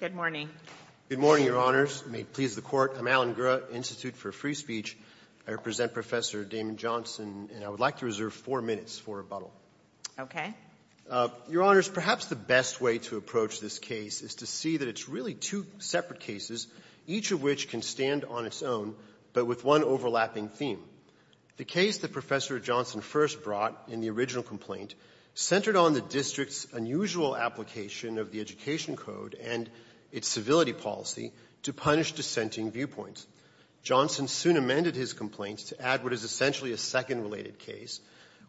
Good morning. Good morning, Your Honors. May it please the Court, I'm Alan Gura, Institute for Free Speech. I represent Professor Damon Johnson, and I would like to reserve four minutes for rebuttal. Okay. Your Honors, perhaps the best way to approach this case is to see that it's really two separate cases, each of which can stand on its own, but with one overlapping theme. The case that Professor Johnson first brought in the original complaint centered on the District's unusual application of the Education Code and its civility policy to punish dissenting viewpoints. Johnson soon amended his complaint to add what is essentially a second related case,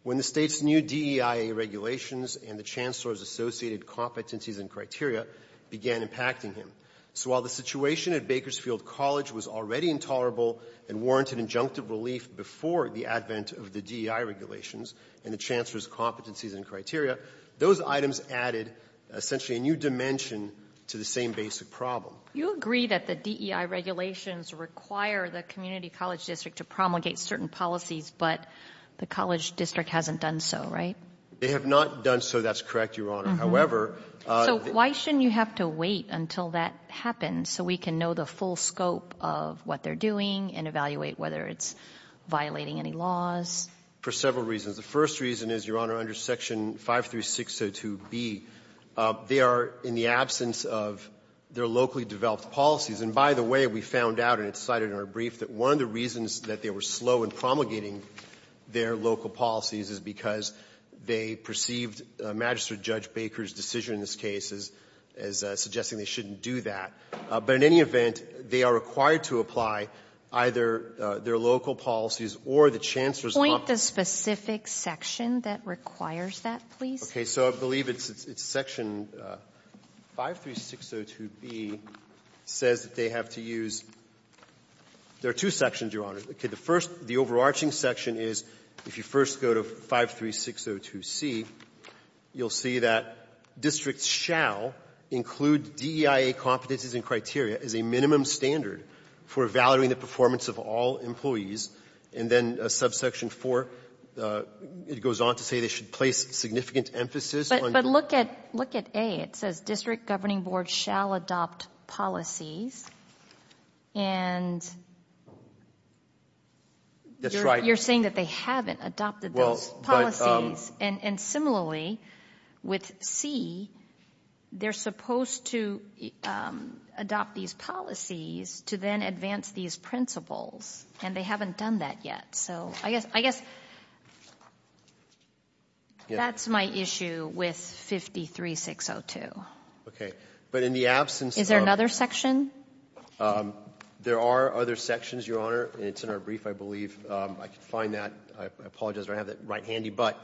when the State's new DEIA regulations and the Chancellor's associated competencies and criteria began impacting him. So while the situation at Bakersfield College was already intolerable and warranted injunctive relief before the advent of the DEIA regulations and the Those items added essentially a new dimension to the same basic problem. You agree that the DEIA regulations require the community college district to promulgate certain policies, but the college district hasn't done so, right? They have not done so. That's correct, Your Honor. However — So why shouldn't you have to wait until that happens so we can know the full scope of what they're doing and evaluate whether it's violating any laws? For several reasons. The first reason is, Your Honor, under Section 53602B, they are in the absence of their locally developed policies. And by the way, we found out, and it's cited in our brief, that one of the reasons that they were slow in promulgating their local policies is because they perceived Magistrate Judge Baker's decision in this case as suggesting they shouldn't do that. But in any event, they are required to apply either their local policies or the Chancellor's Could you point the specific section that requires that, please? Okay. So I believe it's Section 53602B says that they have to use — there are two sections, Your Honor. Okay. The first, the overarching section is if you first go to 53602C, you'll see that districts shall include DEIA competencies and criteria as a minimum standard for evaluating the performance of all employees. And then Subsection 4, it goes on to say they should place significant emphasis on But look at A. It says district governing boards shall adopt policies. And you're saying that they haven't adopted those policies. And similarly, with C, they're supposed to adopt these policies to then advance these principles, and they haven't done that yet. So I guess that's my issue with 53602. But in the absence of — Is there another section? There are other sections, Your Honor, and it's in our brief, I believe. I could find that. I apologize if I don't have that right handy. But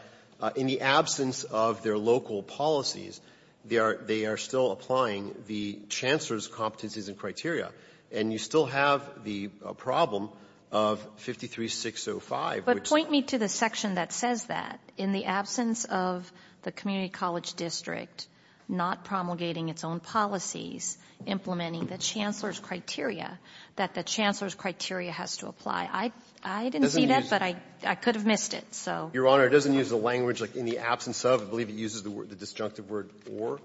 in the absence of their local policies, they are still applying the chancellor's competencies and criteria. And you still have the problem of 53605, which — But point me to the section that says that. In the absence of the community college district not promulgating its own policies, implementing the chancellor's criteria, that the chancellor's criteria has to apply. I didn't see that, but I could have missed it. Your Honor, it doesn't use the language, like, in the absence of. I believe it uses the disjunctive word or,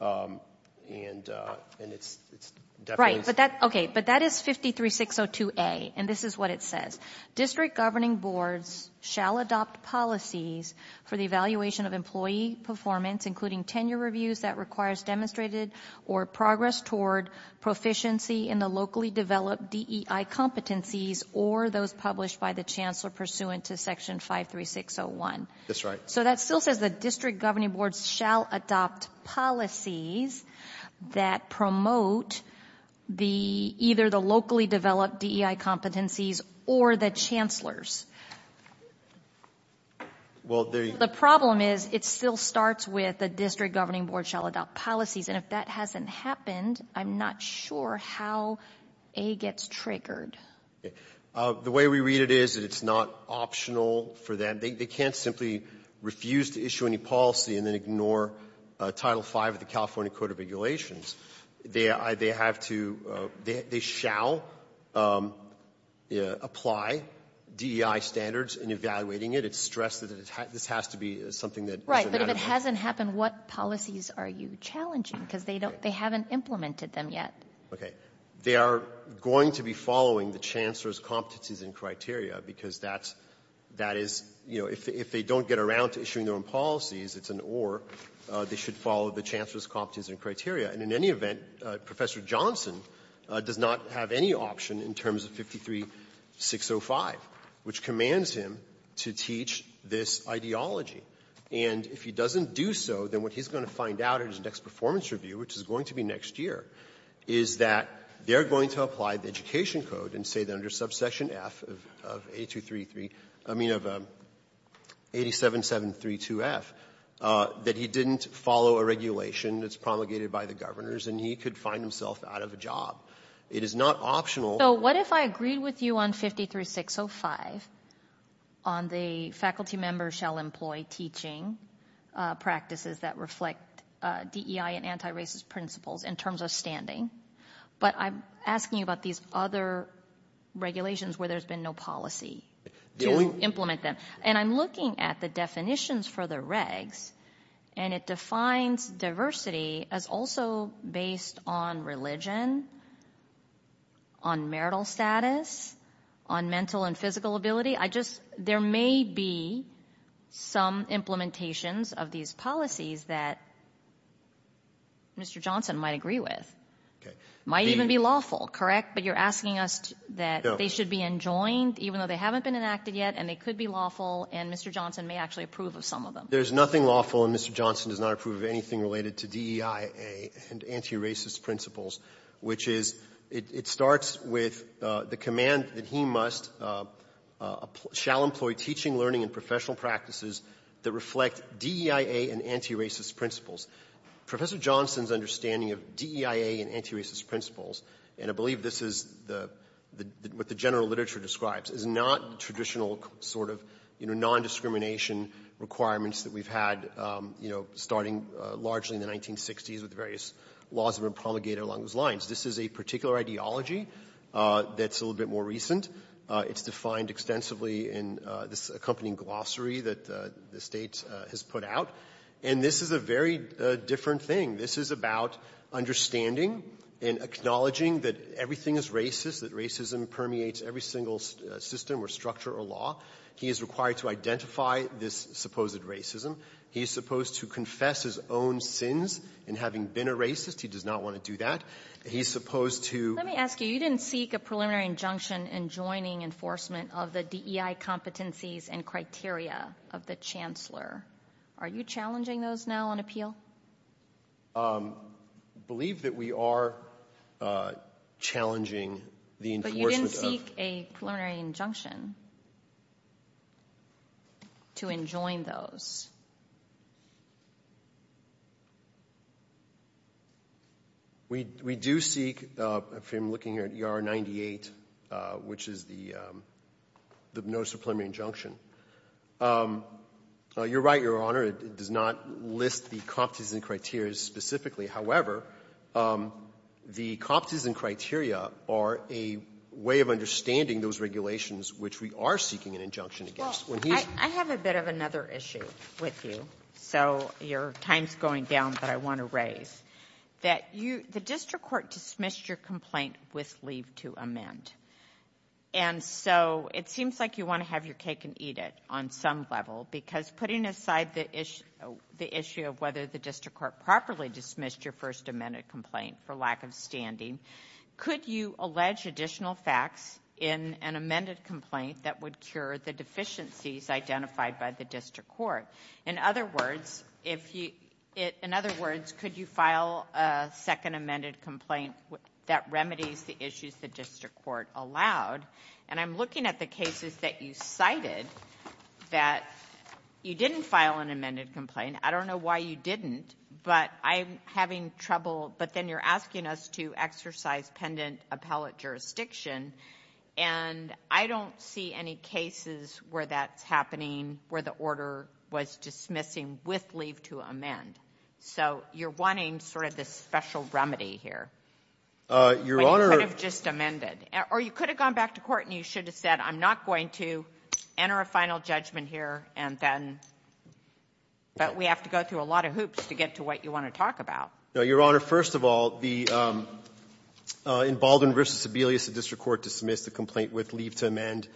and it's definitely — Right, but that — okay, but that is 53602A, and this is what it says. District governing boards shall adopt policies for the evaluation of employee performance, including tenure reviews that requires demonstrated or progress toward proficiency in the locally developed DEI competencies or those published by the chancellor pursuant to section 53601. That's right. So that still says that district governing boards shall adopt policies that promote the, either the locally developed DEI competencies or the chancellor's. Well, the — The problem is, it still starts with the district governing board shall adopt policies. And if that hasn't happened, I'm not sure how A gets triggered. The way we read it is that it's not optional for them. They can't simply refuse to issue any policy and then ignore Title V of the California Code of Regulations. They have to — they shall apply DEI standards in evaluating it. It's stressed that this has to be something that is — But if it hasn't happened, what policies are you challenging? Because they don't — they haven't implemented them yet. Okay. They are going to be following the chancellor's competencies and criteria, because that's — that is — you know, if they don't get around to issuing their own policies, it's an or. They should follow the chancellor's competencies and criteria. And in any event, Professor Johnson does not have any option in terms of 53605, which commands him to teach this ideology. And if he doesn't do so, then what he's going to find out in his next performance review, which is going to be next year, is that they're going to apply the education code and say that under subsection F of 8233 — I mean, of 87732F, that he didn't follow a regulation that's promulgated by the governors, and he could find himself out of a job. It is not optional. So what if I agreed with you on 53605 on the faculty members shall employ teaching practices that reflect DEI and anti-racist principles in terms of standing, but I'm asking you about these other regulations where there's been no policy to implement them. And I'm looking at the definitions for the regs, and it defines diversity as also based on religion, on marital status, on mental and physical ability. I just — there may be some implementations of these policies that Mr. Johnson might agree with. It might even be lawful, correct? But you're asking us that they should be enjoined, even though they haven't been enacted yet, and they could be lawful, and Mr. Johnson may actually approve of some of them. There's nothing lawful, and Mr. Johnson does not approve of anything related to DEIA and anti-racist principles, which is, it starts with the command that he must — shall employ teaching, learning, and professional practices that reflect DEIA and anti-racist principles. Professor Johnson's understanding of DEIA and anti-racist principles, and I believe this is the — what the general literature describes, is not traditional sort of, you know, nondiscrimination requirements that we have had, you know, starting largely in the 1960s with the various laws that were promulgated along those lines. This is a particular ideology that's a little bit more recent. It's defined extensively in this accompanying glossary that the State has put out. And this is a very different thing. This is about understanding and acknowledging that everything is racist, that racism permeates every single system or structure or law. He is required to identify this supposed racism. He is supposed to confess his own sins in having been a racist. He does not want to do that. He is supposed to — Let me ask you. You didn't seek a preliminary injunction in joining enforcement of the DEI competencies and criteria of the Chancellor. Are you challenging those now on appeal? I believe that we are challenging the enforcement of — But you didn't seek a preliminary injunction. To enjoin those. We do seek — I'm looking here at ER 98, which is the notice of preliminary injunction. You're right, Your Honor, it does not list the competencies and criteria specifically. However, the competencies and criteria are a way of understanding those regulations which we are seeking an injunction against. Well, I have a bit of another issue with you. So, your time's going down, but I want to raise. The district court dismissed your complaint with leave to amend. And so, it seems like you want to have your cake and eat it on some level. Because putting aside the issue of whether the district court properly dismissed your first amended complaint for lack of standing, could you allege additional facts in an amended complaint that would cure the deficiencies identified by the district court? In other words, could you file a second amended complaint that remedies the issues the district court allowed? And I'm looking at the cases that you cited that you didn't file an amended complaint. I don't know why you didn't, but I'm having trouble — I'm in an exercise-pendant appellate jurisdiction, and I don't see any cases where that's happening, where the order was dismissing with leave to amend. So, you're wanting sort of this special remedy here. But you could have just amended. Or you could have gone back to court and you should have said, I'm not going to enter a final judgment here, and then — but we have to go through a lot of hoops to get to what you want to talk about. No, Your Honor. First of all, in Baldwin v. Sebelius, the district court dismissed the complaint with leave to amend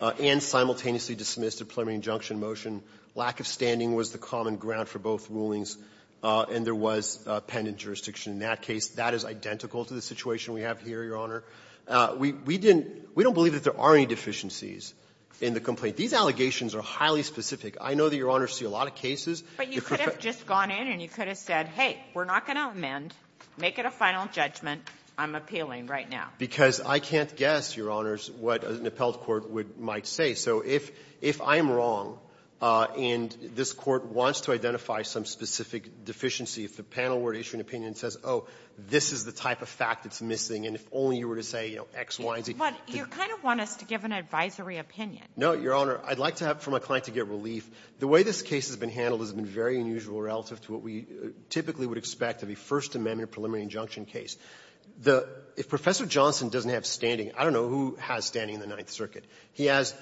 and simultaneously dismissed a preliminary injunction motion. Lack of standing was the common ground for both rulings, and there was a pendant jurisdiction in that case. That is identical to the situation we have here, Your Honor. We didn't — we don't believe that there are any deficiencies in the complaint. These allegations are highly specific. I know that Your Honor sees a lot of cases. But you could have just gone in and you could have said, hey, we're not going to amend. Make it a final judgment. I'm appealing right now. Because I can't guess, Your Honors, what an appellate court would — might say. So if — if I'm wrong and this Court wants to identify some specific deficiency, if the panel were to issue an opinion that says, oh, this is the type of fact that's missing, and if only you were to say, you know, X, Y, Z — But you kind of want us to give an advisory opinion. No, Your Honor. I'd like to have — for my client to get relief. The way this case has been handled has been very unusual relative to what we typically would expect of a First Amendment preliminary injunction case. The — if Professor Johnson doesn't have standing, I don't know who has standing in the Ninth Circuit. He has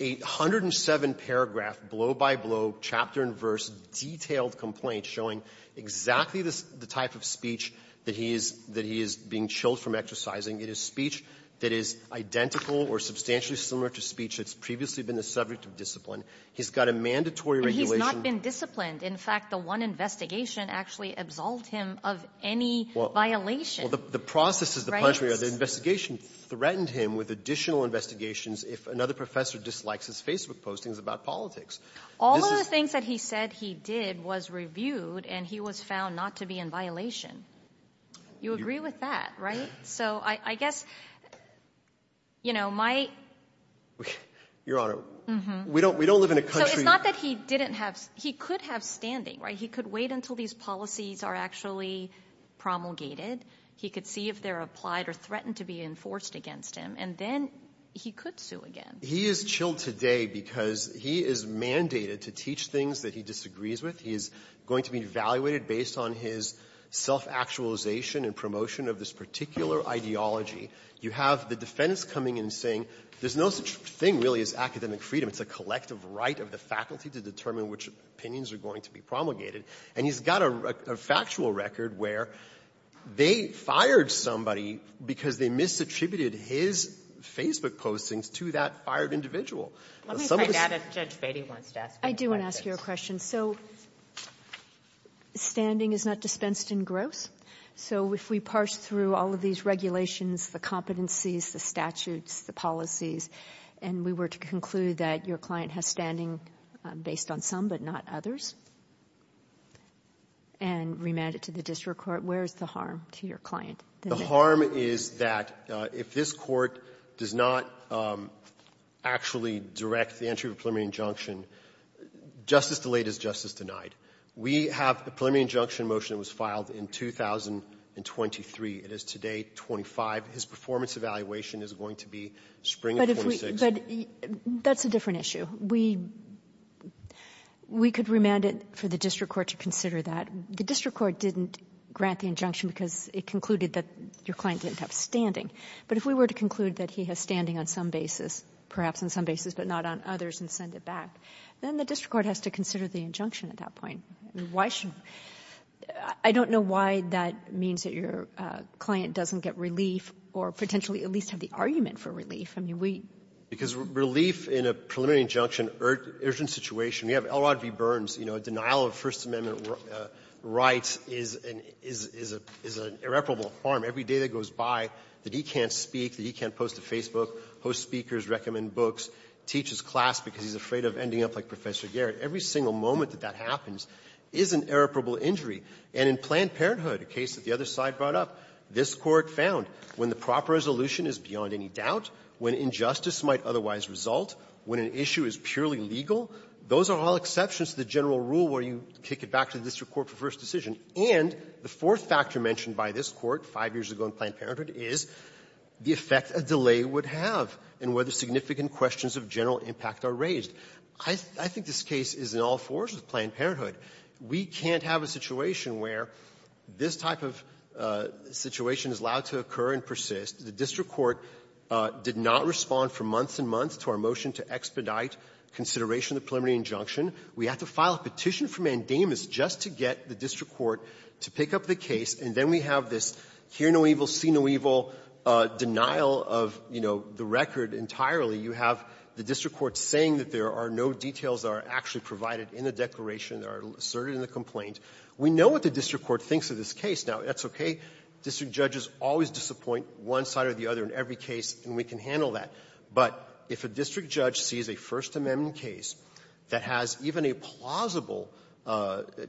a 107-paragraph, blow-by-blow, chapter-in-verse, detailed complaint showing exactly the type of speech that he is — that he is being chilled from exercising. It is speech that is identical or substantially similar to speech that's previously been the subject of discipline. He's got a mandatory regulation. And he's not been disciplined. In fact, the one investigation actually absolved him of any violation. Well, the process is the contrary. The investigation threatened him with additional investigations if another professor dislikes his Facebook postings about politics. All of the things that he said he did was reviewed, and he was found not to be in violation. You agree with that, right? So I guess, you know, my — Your Honor. We don't — we don't live in a country — So it's not that he didn't have — he could have standing, right? He could wait until these policies are actually promulgated. He could see if they're applied or threatened to be enforced against him. And then he could sue again. He is chilled today because he is mandated to teach things that he disagrees with. He is going to be evaluated based on his self-actualization and promotion of this particular ideology. You have the defense coming and saying there's no such thing really as academic freedom. It's a collective right of the faculty to determine which opinions are going to be promulgated. And he's got a factual record where they fired somebody because they misattributed his Facebook postings to that fired individual. Let me find out if Judge Batey wants to ask any questions. I do want to ask you a question. So standing is not dispensed in gross. So if we parse through all of these regulations, the competencies, the statutes, the policies, and we were to conclude that your client has standing based on some but not others and remand it to the district court, where is the harm to your client? The harm is that if this Court does not actually direct the entry of a preliminary injunction, justice delayed is justice denied. We have a preliminary injunction motion that was filed in 2023. It is today 25. His performance evaluation is going to be spring of 26. But that's a different issue. We could remand it for the district court to consider that. The district court didn't grant the injunction because it concluded that your client didn't have standing. But if we were to conclude that he has standing on some basis, perhaps on some basis but not on others, and send it back, then the district court has to consider the injunction at that point. I don't know why that means that your client doesn't get relief or potentially at least have the argument for relief. I mean, we — Because relief in a preliminary injunction urgent situation, we have Elrod V. Burns, you know, a denial of First Amendment rights is an irreparable harm. Every day that goes by that he can't speak, that he can't post to Facebook, host speakers, recommend books, teaches class because he's afraid of ending up like Professor Garrett. Every single moment that that happens is an irreparable injury. And in Planned Parenthood, a case that the other side brought up, this Court found when the proper resolution is beyond any doubt, when injustice might otherwise result, when an issue is purely legal, those are all exceptions to the general rule where you kick it back to the district court for first decision. And the fourth factor mentioned by this Court five years ago in Planned Parenthood is the effect a delay would have and whether significant questions of general impact are raised. I think this case is in all fours with Planned Parenthood. We can't have a situation where this type of situation is allowed to occur and persist. The district court did not respond for months and months to our motion to expedite consideration of the preliminary injunction. We had to file a petition from Mandamus just to get the district court to pick up the case, and then we have this hear no evil, see no evil denial of, you know, the record entirely. You have the district court saying that there are no details that are actually provided in the declaration that are asserted in the complaint. We know what the district court thinks of this case. Now, that's okay. District judges always disappoint one side or the other in every case, and we can handle that. But if a district judge sees a First Amendment case that has even a plausible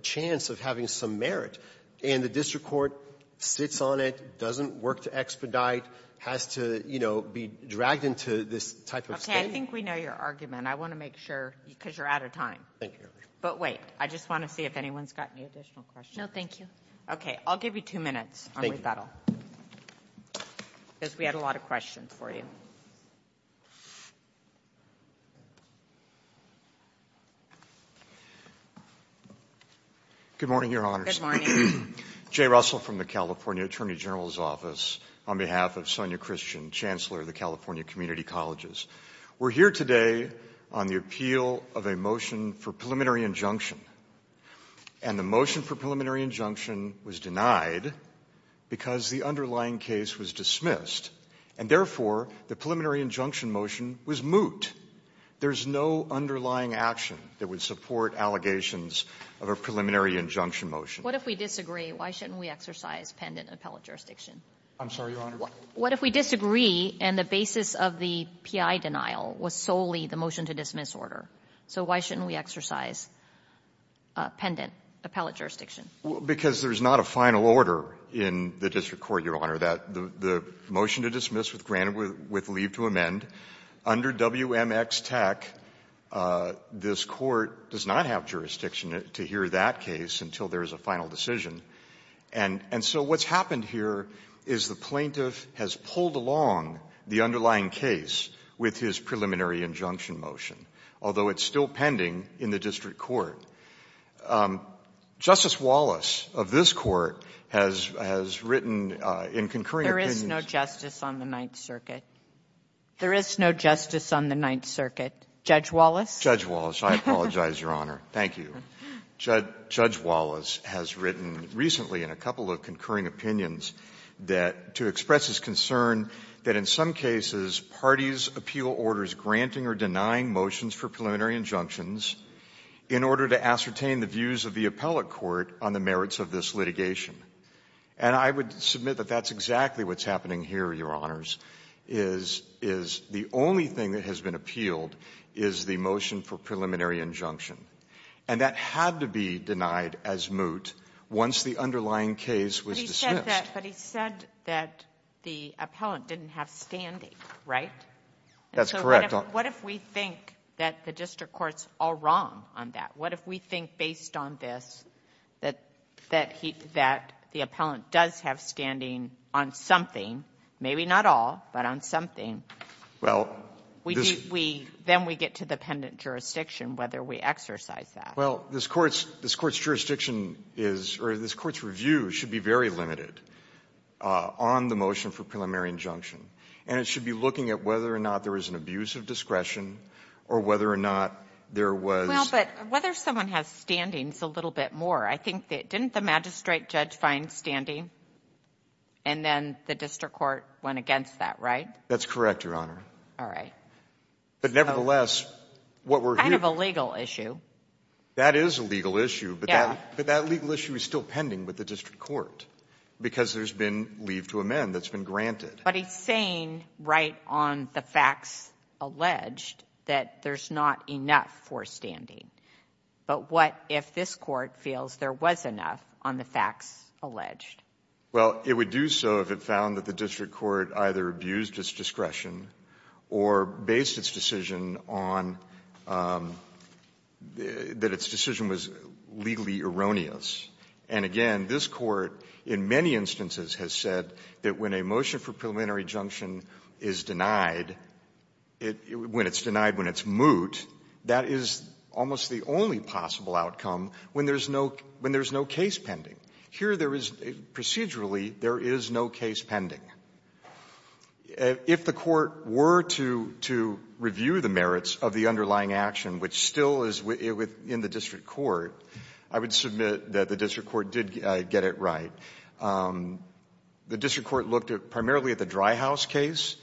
chance of having some merit, and the district court sits on it, doesn't work to expedite, has to, you know, be dragged into this type of state. I think we know your argument. I want to make sure, because you're out of time. Thank you, Your Honor. But wait. I just want to see if anyone's got any additional questions. No, thank you. Okay. I'll give you two minutes on rebuttal. Because we had a lot of questions for you. Good morning, Your Honors. Good morning. Jay Russell from the California Attorney General's office on behalf of Sonia Christian, Chancellor of the California Community Colleges. We're here today on the appeal of a motion for preliminary injunction. And the motion for preliminary injunction was denied because the underlying case was dismissed. And therefore, the preliminary injunction motion was moot. There's no underlying action that would support allegations of a preliminary injunction motion. What if we disagree? Why shouldn't we exercise pendent appellate jurisdiction? I'm sorry, Your Honor? What if we disagree and the basis of the P.I. denial was solely the motion to dismiss order? So why shouldn't we exercise pendent appellate jurisdiction? Because there's not a final order in the district court, Your Honor, that the motion to dismiss with leave to amend. Under WMXTAC, this Court does not have jurisdiction to hear that case until there is a final decision. And so what's happened here is the plaintiff has pulled along the underlying case with his preliminary injunction motion, although it's still pending in the district court. Justice Wallace of this Court has written in concurring opinions — There is no justice on the Ninth Circuit. There is no justice on the Ninth Circuit. Judge Wallace? Judge Wallace. I apologize, Your Honor. Thank you. Judge Wallace has written recently in a couple of concurring opinions that — to express his concern that in some cases, parties appeal orders granting or denying motions for preliminary injunctions in order to ascertain the views of the appellate court on the merits of this litigation. And I would submit that that's exactly what's happening here, Your Honors, is the only thing that has been appealed is the motion for preliminary injunction. And that had to be denied as moot once the underlying case was dismissed. But he said that the appellant didn't have standing, right? That's correct, Your Honor. What if we think that the district court's all wrong on that? What if we think, based on this, that he — that the appellant does have standing on something, maybe not all, but on something? Well, this — We — then we get to the pendant jurisdiction, whether we exercise that. Well, this Court's — this Court's jurisdiction is — or this Court's review should be very limited on the motion for preliminary injunction. And it should be looking at whether or not there is an abuse of discretion or whether or not there was — Well, but whether someone has standing is a little bit more. I think that — didn't the magistrate judge find standing? And then the district court went against that, right? That's correct, Your Honor. All right. But nevertheless, what we're hearing — Kind of a legal issue. That is a legal issue. Yeah. But that legal issue is still pending with the district court because there's been leave to amend that's been granted. But he's saying right on the facts alleged that there's not enough for standing. But what if this Court feels there was enough on the facts alleged? Well, it would do so if it found that the district court either abused its discretion or based its decision on — that its decision was legally erroneous. And again, this Court in many instances has said that when a motion for preliminary injunction is denied, when it's denied when it's moot, that is almost the only possible outcome when there's no — when there's no case pending. Here there is — procedurally, there is no case pending. If the court were to — to review the merits of the underlying action, which still is within the district court, I would submit that the district court did get it right. The district court looked at — primarily at the Dry House case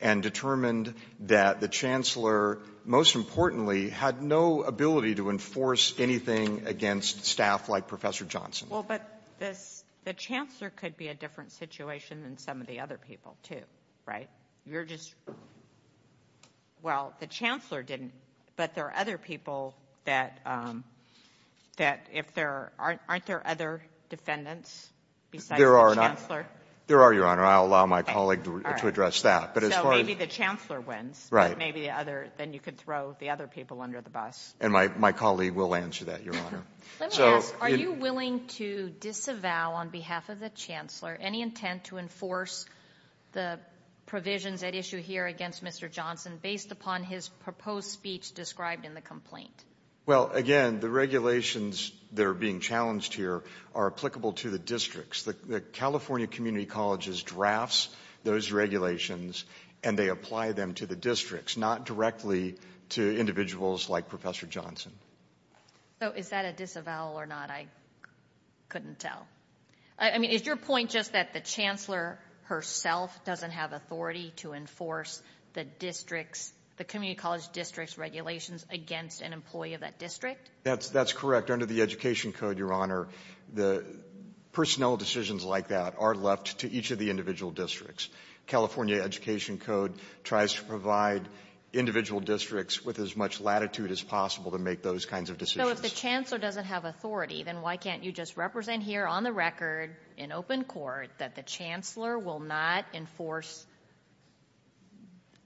and determined that the chancellor, most importantly, had no ability to enforce anything against staff like Professor Johnson. Well, but this — the chancellor could be a different situation than some of the other people, too, right? You're just — well, the chancellor didn't, but there are other people that — that if there — aren't there other defendants besides the chancellor? There are, Your Honor. I'll allow my colleague to address that. But as far as — So maybe the chancellor wins. Right. But maybe the other — then you could throw the other people under the bus. And my colleague will answer that, Your Honor. Let me ask, are you willing to disavow on behalf of the chancellor any intent to enforce the provisions at issue here against Mr. Johnson based upon his proposed speech described in the complaint? Well, again, the regulations that are being challenged here are applicable to the districts. The California Community Colleges drafts those regulations, and they apply them to the districts, not directly to individuals like Professor Johnson. So is that a disavowal or not? I couldn't tell. I mean, is your point just that the chancellor herself doesn't have authority to enforce the district's — the community college district's regulations against an employee of that district? That's correct. Under the Education Code, Your Honor, the personnel decisions like that are left to each of the individual districts. California Education Code tries to provide individual districts with as much latitude as possible to make those kinds of decisions. So if the chancellor doesn't have authority, then why can't you just represent here on the record in open court that the chancellor will not enforce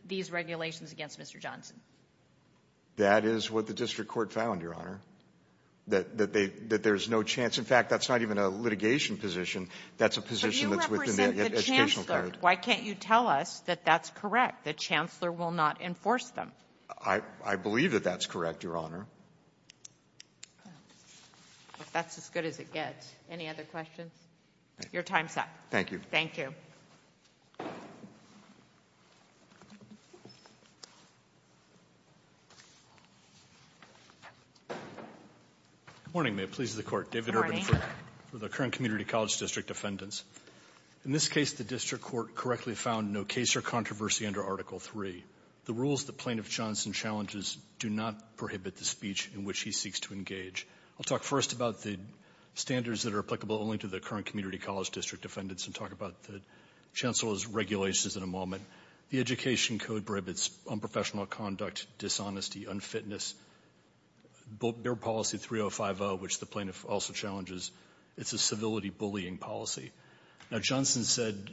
these regulations against Mr. Johnson? That is what the district court found, Your Honor, that there's no chance. In fact, that's not even a litigation position. That's a position that's within the Education Code. Why can't you tell us that that's correct, that chancellor will not enforce them? I believe that that's correct, Your Honor. That's as good as it gets. Any other questions? Your time's up. Thank you. Thank you. Good morning. May it please the Court. David Urban for the current community college district defendants. In this case, the district court correctly found no case or controversy under Article 3. The rules that Plaintiff Johnson challenges do not prohibit the speech in which he seeks to engage. I'll talk first about the standards that are applicable only to the current community college district defendants and talk about the chancellor's regulations in a moment. The Education Code prohibits unprofessional conduct, dishonesty, unfitness. Their policy 3050, which the plaintiff also challenges, it's a civility bullying policy. Now, Johnson said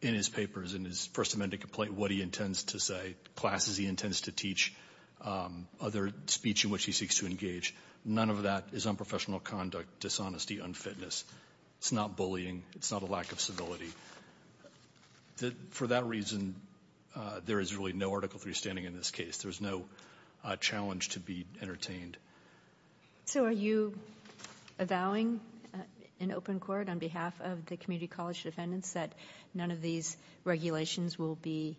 in his papers, in his First Amendment complaint, what he intends to say, classes he intends to teach, other speech in which he seeks to engage. None of that is unprofessional conduct, dishonesty, unfitness. It's not bullying. It's not a lack of civility. For that reason, there is really no Article 3 standing in this case. There's no challenge to be entertained. So, are you avowing in open court on behalf of the community college defendants that none of these regulations will be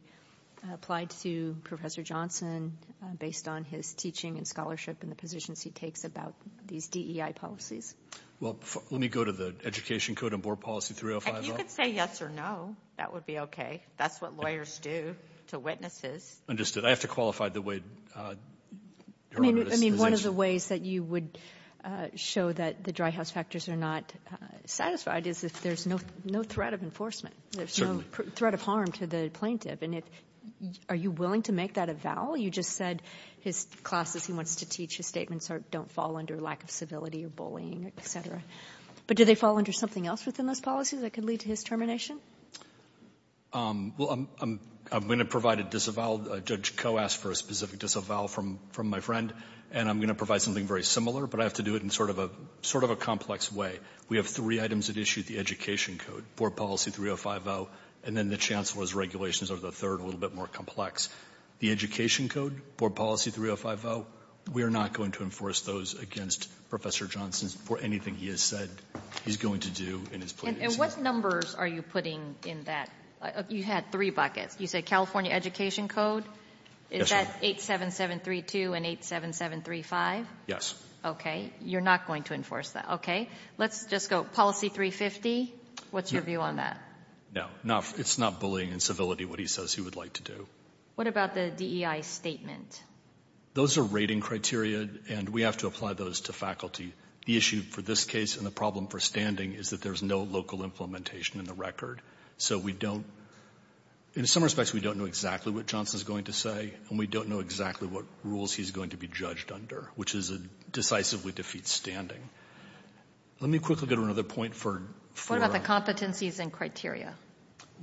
applied to Professor Johnson based on his teaching and scholarship and the positions he takes about these DEI policies? Well, let me go to the Education Code and Board Policy 3050. You can say yes or no. That would be okay. That's what lawyers do to witnesses. Understood. I have to qualify the way... I mean, one of the ways that you would show that the dry house factors are not satisfied is if there's no threat of enforcement. Certainly. There's no threat of harm to the plaintiff. And if, are you willing to make that avowal? You just said his classes he wants to teach, his statements don't fall under lack of civility or bullying, et cetera. But do they fall under something else within those policies that could lead to his termination? Well, I'm going to provide a disavowal. Judge Koh asked for a specific disavowal from my friend, and I'm going to provide something very similar, but I have to do it in sort of a complex way. We have three items at issue, the Education Code, Board Policy 3050, and then the Chancellor's regulations are the third, a little bit more complex. The Education Code, Board Policy 3050, we are not going to enforce those against Professor Johnson for anything he has said he's going to do in his plea. And what numbers are you putting in that? You had three buckets. You said California Education Code? Is that 87732 and 87735? Yes. Okay. You're not going to enforce that. Okay. Let's just go, Policy 350, what's your view on that? No, it's not bullying and civility what he says he would like to do. What about the DEI statement? Those are rating criteria, and we have to apply those to faculty. The issue for this case and the problem for standing is that there's no local implementation in the record. So we don't, in some respects, we don't know exactly what Johnson's going to say, and we don't know exactly what rules he's going to be judged under, which is a decisively defeat standing. Let me quickly go to another point for... What about the competencies and criteria?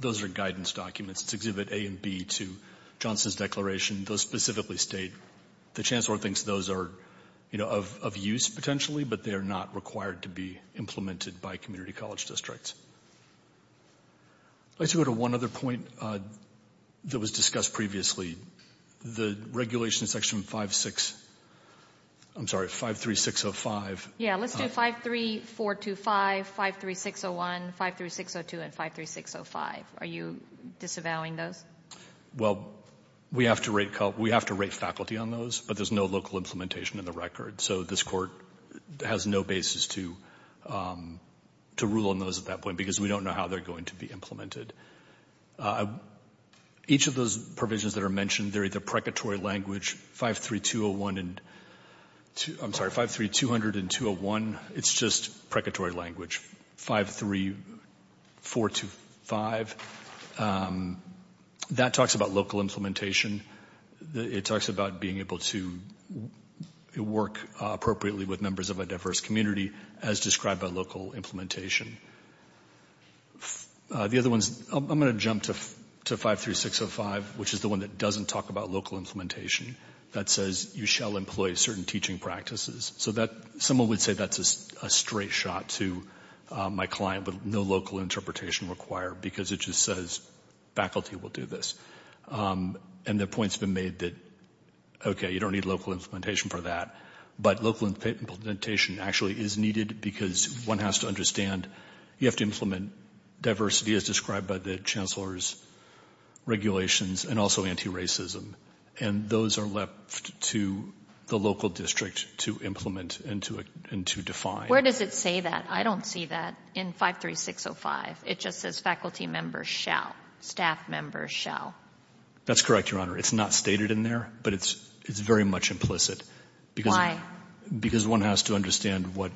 Those are guidance documents. It's Exhibit A and B to Johnson's declaration. Those specifically state the Chancellor thinks those are, you know, of use potentially, but they are not required to be implemented by community college districts. Let's go to one other point that was discussed previously. The regulation section 5-6... I'm sorry, 5-3-6-0-5. Yeah, let's do 5-3-4-2-5, 5-3-6-0-1, 5-3-6-0-2, and 5-3-6-0-5. Are you disavowing those? Well, we have to rate faculty on those, but there's no local implementation in the record. So this Court has no basis to rule on those at that point because we don't know how they're going to be implemented. Each of those provisions that are mentioned, they're either precatory language, 5-3-2-0-1 and... I'm sorry, 5-3-200 and 2-0-1, it's just precatory language. 5-3-4-2-5, that talks about local implementation. It talks about being able to work appropriately with members of a diverse community, as described by local implementation. The other ones... I'm going to jump to 5-3-6-0-5, which is the one that doesn't talk about local implementation. That says, you shall employ certain teaching practices. So that... Someone would say that's a straight shot to my client, but no local interpretation required because it just says, faculty will do this. And the point's been made that, okay, you don't need local implementation for that. But local implementation actually is needed because one has to understand you have to implement diversity, as described by the Chancellor's regulations, and also anti-racism. And those are left to the local district to implement and to define. Where does it say that? I don't see that in 5-3-6-0-5. It just says, faculty members shall. Staff members shall. That's correct, Your Honor. It's not stated in there, but it's very much implicit. Why? Because one has to understand what...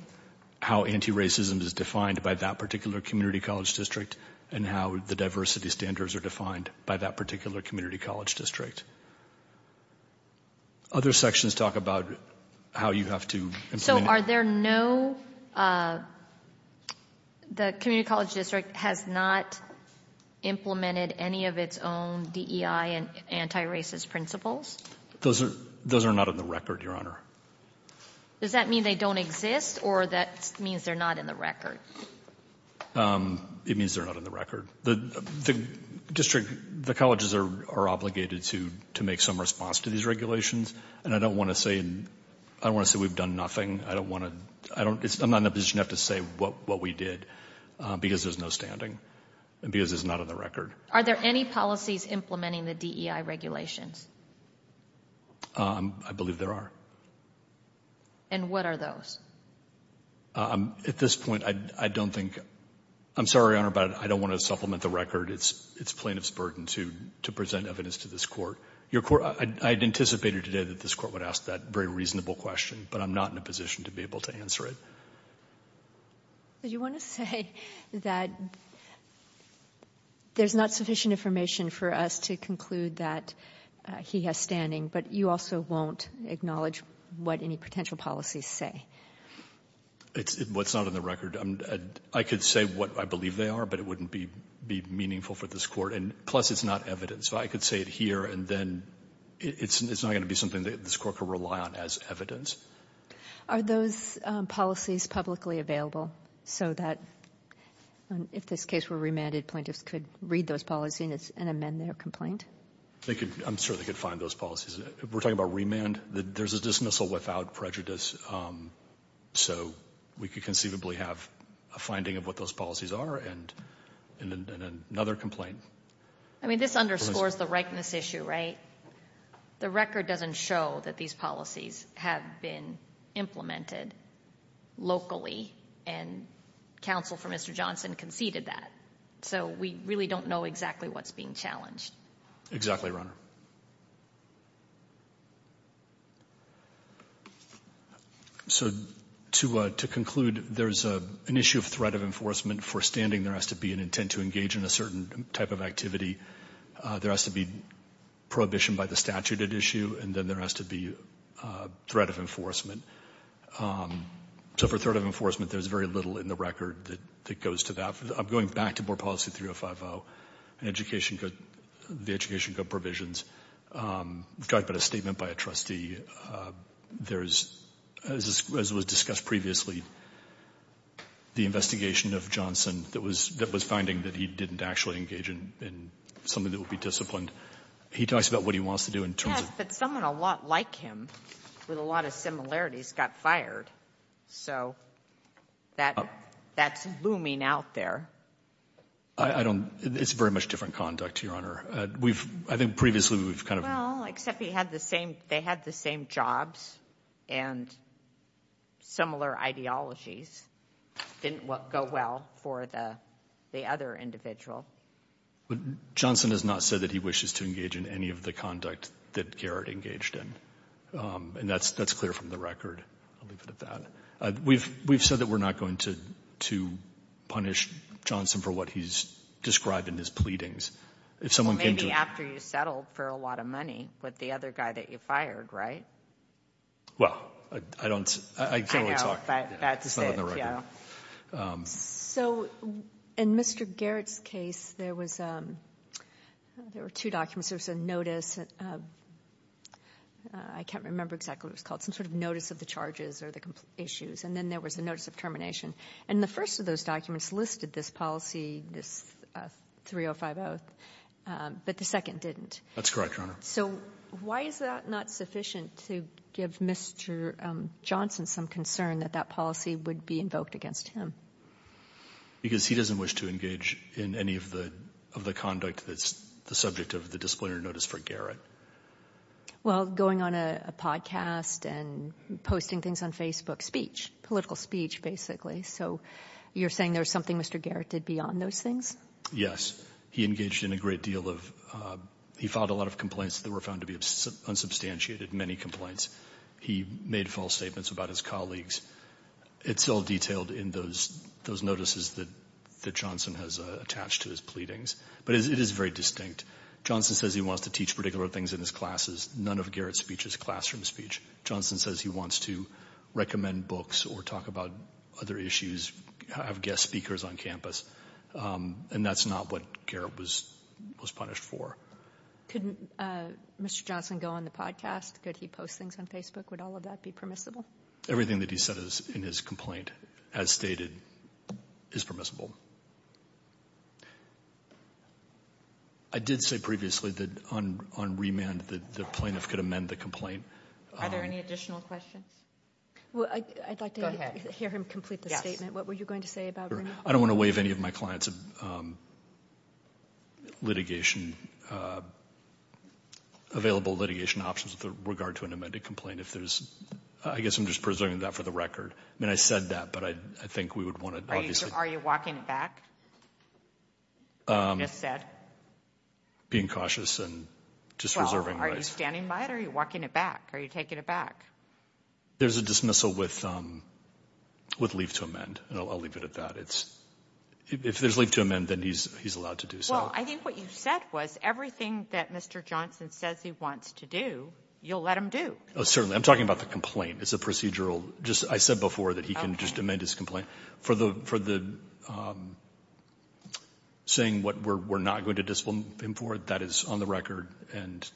how anti-racism is defined by that particular community college district and how the diversity standards are defined by that particular community college district. Other sections talk about how you have to implement... Are there no... The community college district has not implemented any of its own DEI and anti-racist principles? Those are not in the record, Your Honor. Does that mean they don't exist or that means they're not in the record? It means they're not in the record. The district, the colleges are obligated to make some response to these regulations. And I don't want to say we've done nothing. I don't want to... I'm not in a position to have to say what we did because there's no standing and because it's not on the record. Are there any policies implementing the DEI regulations? I believe there are. And what are those? At this point, I don't think... I'm sorry, Your Honor, but I don't want to supplement the record. It's plaintiff's burden to present evidence to this court. Your court... I had anticipated today that this court would ask that very reasonable question, but I'm not in a position to be able to answer it. Do you want to say that there's not sufficient information for us to conclude that he has standing, but you also won't acknowledge what any potential policies say? It's what's not on the record. I could say what I believe they are, but it wouldn't be meaningful for this court. And plus, it's not evidence. So I could say it here, and then it's not going to be something that this court could rely on as evidence. Are those policies publicly available? So that if this case were remanded, plaintiffs could read those policies and amend their complaint? They could. I'm sure they could find those policies. We're talking about remand. There's a dismissal without prejudice. So we could conceivably have a finding of what those policies are and another complaint. I mean, this underscores the rightness issue, right? The record doesn't show that these policies have been implemented locally, and counsel for Mr. Johnson conceded that. So we really don't know exactly what's being challenged. Exactly, Your Honor. So to conclude, there's an issue of threat of enforcement for standing. There has to be an intent to engage in a certain type of activity. There has to be prohibition by the statute at issue. And then there has to be threat of enforcement. So for threat of enforcement, there's very little in the record that goes to that. I'm going back to Board Policy 3050 and the Education Code provisions. We've got a statement by a trustee. There's, as was discussed previously, the investigation of Johnson that was finding that he didn't actually engage in something that would be disciplined. He talks about what he wants to do in terms of... Yes, but someone a lot like him with a lot of similarities got fired. So that's looming out there. I don't... It's very much different conduct, Your Honor. We've... I think previously we've kind of... Well, except he had the same... They had the same jobs and similar ideologies. It didn't go well for the other individual. But Johnson has not said that he wishes to engage in any of the conduct that Garrett engaged in. And that's clear from the record. I'll leave it at that. We've said that we're not going to punish Johnson for what he's described in his pleadings. If someone came to... Maybe after you settled for a lot of money with the other guy that you fired, right? Well, I don't... I can only talk... That's it, yeah. So in Mr. Garrett's case, there was two documents. There was a notice. I can't remember exactly what it was called. Some sort of notice of the charges or the issues. And then there was a notice of termination. And the first of those documents listed this policy, this 3050, but the second didn't. That's correct, Your Honor. So why is that not sufficient to give Mr. Johnson some concern that that policy would be invoked against him? Because he doesn't wish to engage in any of the conduct that's the subject of the disciplinary notice for Garrett. Well, going on a podcast and posting things on Facebook, speech, political speech, basically. So you're saying there's something Mr. Garrett did beyond those things? Yes. He engaged in a great deal of... He filed a lot of complaints that were found to be unsubstantiated, many complaints. He made false statements about his colleagues. It's all detailed in those notices that Johnson has attached to his pleadings. But it is very distinct. Johnson says he wants to teach particular things in his classes. None of Garrett's speech is classroom speech. Johnson says he wants to recommend books or talk about other issues, have guest speakers on campus. And that's not what Garrett was punished for. Couldn't Mr. Johnson go on the podcast? Could he post things on Facebook? Would all of that be permissible? Everything that he said in his complaint, as stated, is permissible. I did say previously that on remand, the plaintiff could amend the complaint. Are there any additional questions? Well, I'd like to hear him complete the statement. What were you going to say about remand? I don't want to waive any of my clients' available litigation options with regard to an amended complaint. I guess I'm just presenting that for the record. I mean, I said that, but I think we would want to... Are you walking it back? You just said? Being cautious and just reserving rights. Are you standing by it or are you walking it back? Are you taking it back? There's a dismissal with leave to amend. And I'll leave it at that. If there's leave to amend, then he's allowed to do so. Well, I think what you said was everything that Mr. Johnson says he wants to do, you'll let him do. Oh, certainly. I'm talking about the complaint. It's a procedural. Just I said before that he can just amend his complaint. For the saying what we're not going to dismiss him for, that is on the record, and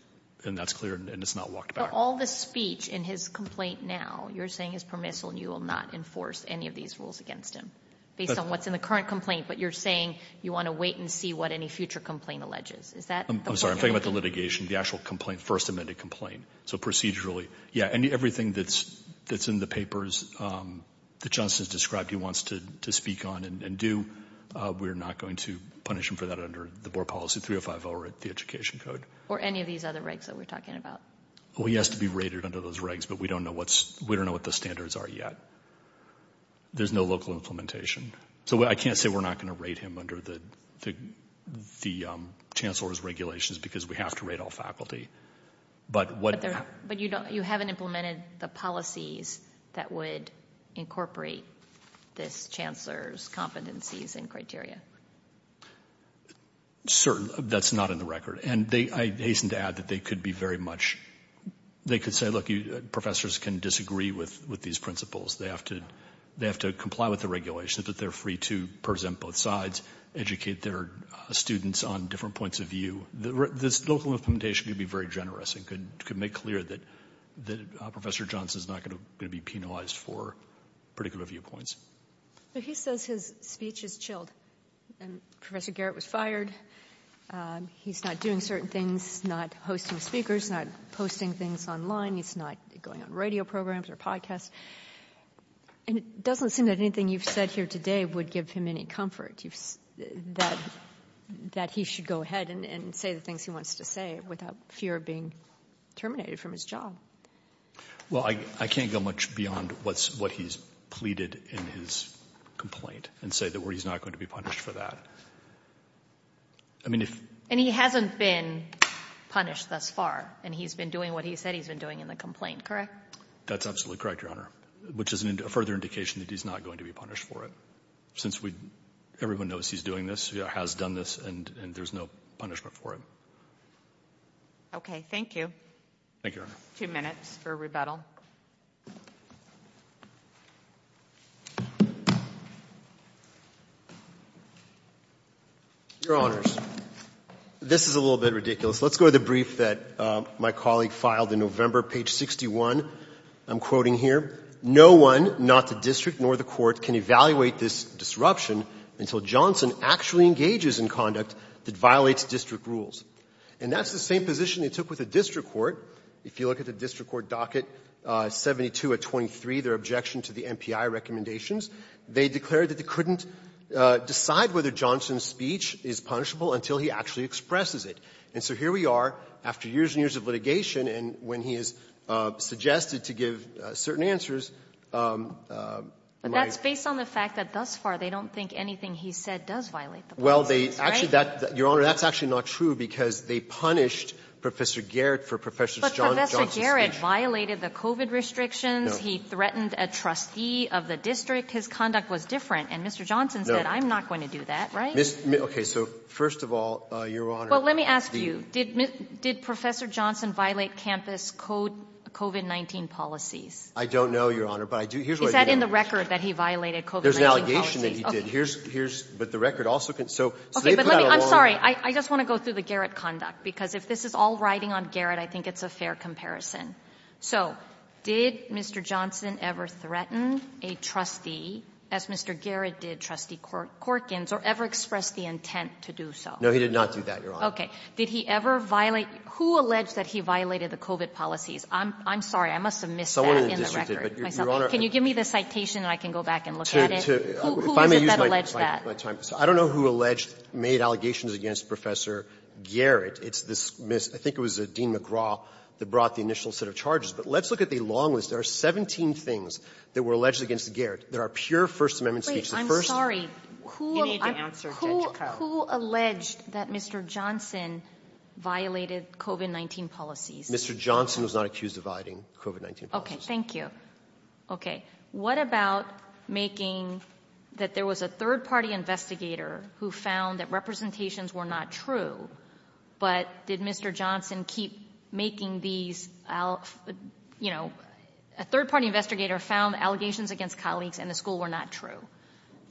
that's clear, and it's not walked back. But all the speech in his complaint now, you're saying is permissible and you will not enforce any of these rules against him. Based on what's in the current complaint, but you're saying you want to wait and see what any future complaint alleges. Is that... I'm sorry. I'm talking about the litigation, the actual complaint, first amended complaint. So procedurally, yeah, and everything that's in the papers that Johnson has described he wants to speak on and do, we're not going to punish him for that under the board policy 3050 or the education code. Or any of these other regs that we're talking about. Well, he has to be rated under those regs, but we don't know what the standards are yet. There's no local implementation. So I can't say we're not going to rate him under the chancellor's regulations because we have to rate all faculty. But what... But you haven't implemented the policies that would incorporate this chancellor's competencies and criteria. Certainly, that's not in the record. And I hasten to add that they could be very much... They could say, look, professors can disagree with these principles. They have to comply with the regulations, that they're free to present both sides, educate their students on different points of view. This local implementation could be very generous and could make clear that Professor Johnson's not going to be penalized for particular viewpoints. But he says his speech is chilled. And Professor Garrett was fired. He's not doing certain things, not hosting speakers, not posting things online. He's not going on radio programs or podcasts. And it doesn't seem that anything you've said here today would give him any comfort, that he should go ahead and say the things he wants to say without fear of being terminated from his job. Well, I can't go much beyond what he's pleaded in his complaint and say that he's not going to be punished for that. I mean, if... And he hasn't been punished thus far. And he's been doing what he said he's been doing in the complaint, correct? That's absolutely correct, Your Honor, which is a further indication that he's not going to be punished for it. Since we — everyone knows he's doing this, has done this, and there's no punishment for it. Okay. Thank you. Thank you, Your Honor. Two minutes for rebuttal. Your Honors, this is a little bit ridiculous. Let's go to the brief that my colleague filed in November, page 61. I'm quoting here. No one, not the district nor the court, can evaluate this disruption until Johnson actually engages in conduct that violates district rules. And that's the same position they took with the district court. If you look at the district court docket 72 at 23, their objection to the MPI recommendations, they declared that they couldn't decide whether Johnson's speech is punishable until he actually expresses it. And so here we are after years and years of litigation, and when he has suggested to give certain answers, my... But that's based on the fact that thus far they don't think anything he said does violate the policy, right? Well, they — actually, that — Your Honor, that's actually not true because they punished Professor Garrett for Professor Johnson's speech. But Professor Garrett violated the COVID restrictions. No. So he threatened a trustee of the district. His conduct was different. And Mr. Johnson said, I'm not going to do that, right? Okay, so first of all, Your Honor... Well, let me ask you, did Professor Johnson violate campus COVID-19 policies? I don't know, Your Honor, but I do — here's what I do know. Is that in the record that he violated COVID-19 policies? There's an allegation that he did. Here's — but the record also — so they put out a warrant. I'm sorry. I just want to go through the Garrett conduct because if this is all riding on Garrett, I think it's a fair comparison. So did Mr. Johnson ever threaten a trustee, as Mr. Garrett did Trustee Corkins, or ever express the intent to do so? No, he did not do that, Your Honor. Okay. Did he ever violate — who alleged that he violated the COVID policies? I'm — I'm sorry. I must have missed that in the record myself. Someone in the district did, but, Your Honor... Can you give me the citation and I can go back and look at it? To — to — if I may use my time. I don't know who alleged — made allegations against Professor Garrett. It's this — I think it was Dean McGraw that brought the initial set of charges. But let's look at the long list. There are 17 things that were alleged against Garrett that are pure First Amendment speech. The first — Who — You need to answer, Judge Koh. Who — who alleged that Mr. Johnson violated COVID-19 policies? Mr. Johnson was not accused of violating COVID-19 policies. Okay. Thank you. Okay. What about making that there was a third-party investigator who found that representations were not true, but did Mr. Johnson keep making these — you know, a third-party investigator found allegations against colleagues in the school were not true?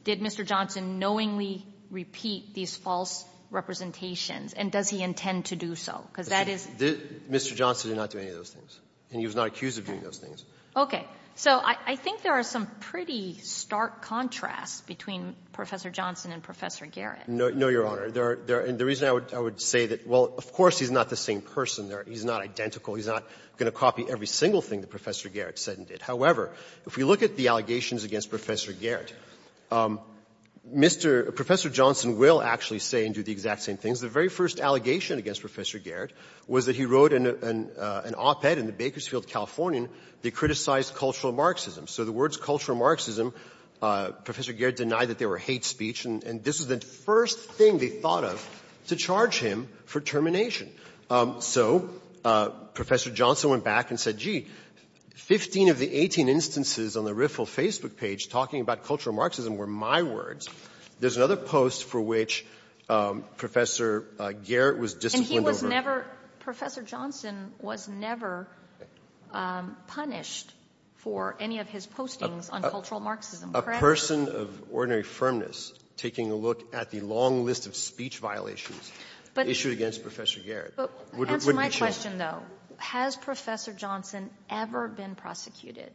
Did Mr. Johnson knowingly repeat these false representations? And does he intend to do so? Because that is — Mr. Johnson did not do any of those things. And he was not accused of doing those things. Okay. So I think there are some pretty stark contrasts between Professor Johnson and Professor Garrett. No, Your Honor. The reason I would say that, well, of course he's not the same person. He's not identical. He's not going to copy every single thing that Professor Garrett said and did. However, if we look at the allegations against Professor Garrett, Mr. — Professor Johnson will actually say and do the exact same things. The very first allegation against Professor Garrett was that he wrote an op-ed in Bakersfield, California that criticized cultural Marxism. So the words cultural Marxism, Professor Garrett denied that they were hate speech. And this was the first thing they thought of to charge him for termination. So Professor Johnson went back and said, gee, 15 of the 18 instances on the Riffle Facebook page talking about cultural Marxism were my words. There's another post for which Professor Garrett was disciplined over. But he never — Professor Johnson was never punished for any of his postings on cultural Marxism, correct? A person of ordinary firmness taking a look at the long list of speech violations issued against Professor Garrett wouldn't be charged. Answer my question, though. Has Professor Johnson ever been prosecuted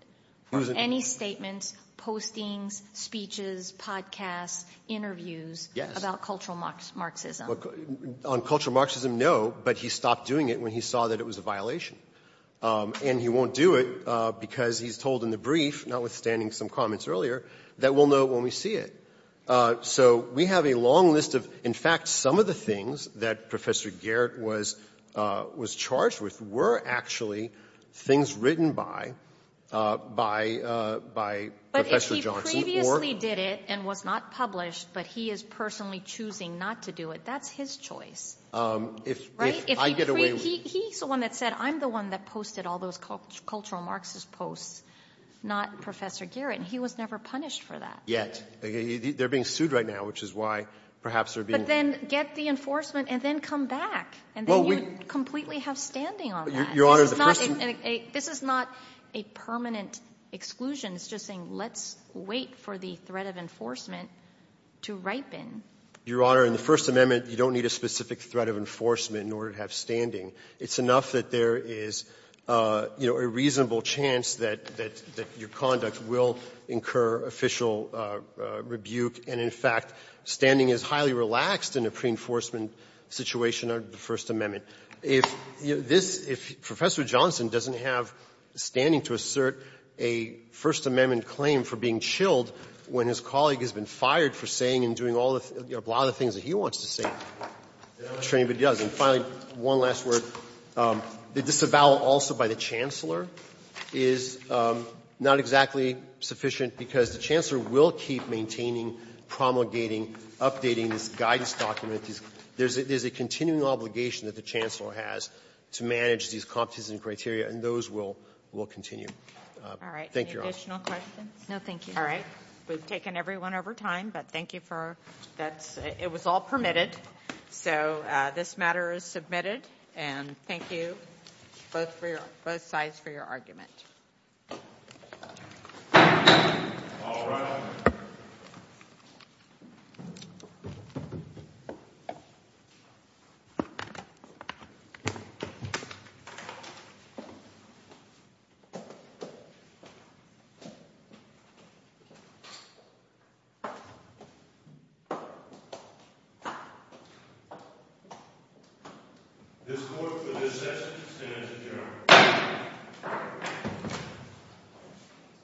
for any statements, postings, speeches, podcasts, interviews about cultural Marxism? On cultural Marxism, no. But he stopped doing it when he saw that it was a violation. And he won't do it because he's told in the brief, notwithstanding some comments earlier, that we'll know when we see it. So we have a long list of — in fact, some of the things that Professor Garrett was charged with were actually things written by Professor Johnson or — But if he previously did it and was not published, but he is personally choosing not to do it, that's his choice, right? If I get away with it. He's the one that said, I'm the one that posted all those cultural Marxist posts, not Professor Garrett. And he was never punished for that. Yet. They're being sued right now, which is why perhaps they're being — But then get the enforcement and then come back. And then you'd completely have standing on that. Your Honor, the first — This is not a permanent exclusion. It's just saying, let's wait for the threat of enforcement to ripen. Your Honor, in the First Amendment, you don't need a specific threat of enforcement in order to have standing. It's enough that there is, you know, a reasonable chance that — that your conduct will incur official rebuke. And, in fact, standing is highly relaxed in a preenforcement situation under the First Amendment. If this — if Professor Johnson doesn't have standing to assert a First Amendment claim for being chilled when his colleague has been fired for saying and doing all the — a lot of the things that he wants to say, the other Chamber does. And finally, one last word. The disavowal also by the Chancellor is not exactly sufficient because the Chancellor will keep maintaining, promulgating, updating this guidance document. There's a continuing obligation that the Chancellor has to manage these competencies and criteria, and those will — will continue. Thank you, Your Honor. No, thank you. All right. We've taken everyone over time, but thank you for — that's — it was all permitted, so this matter is submitted. And thank you both for your — both sides for your argument. All rise. This court, for this session, stands adjourned.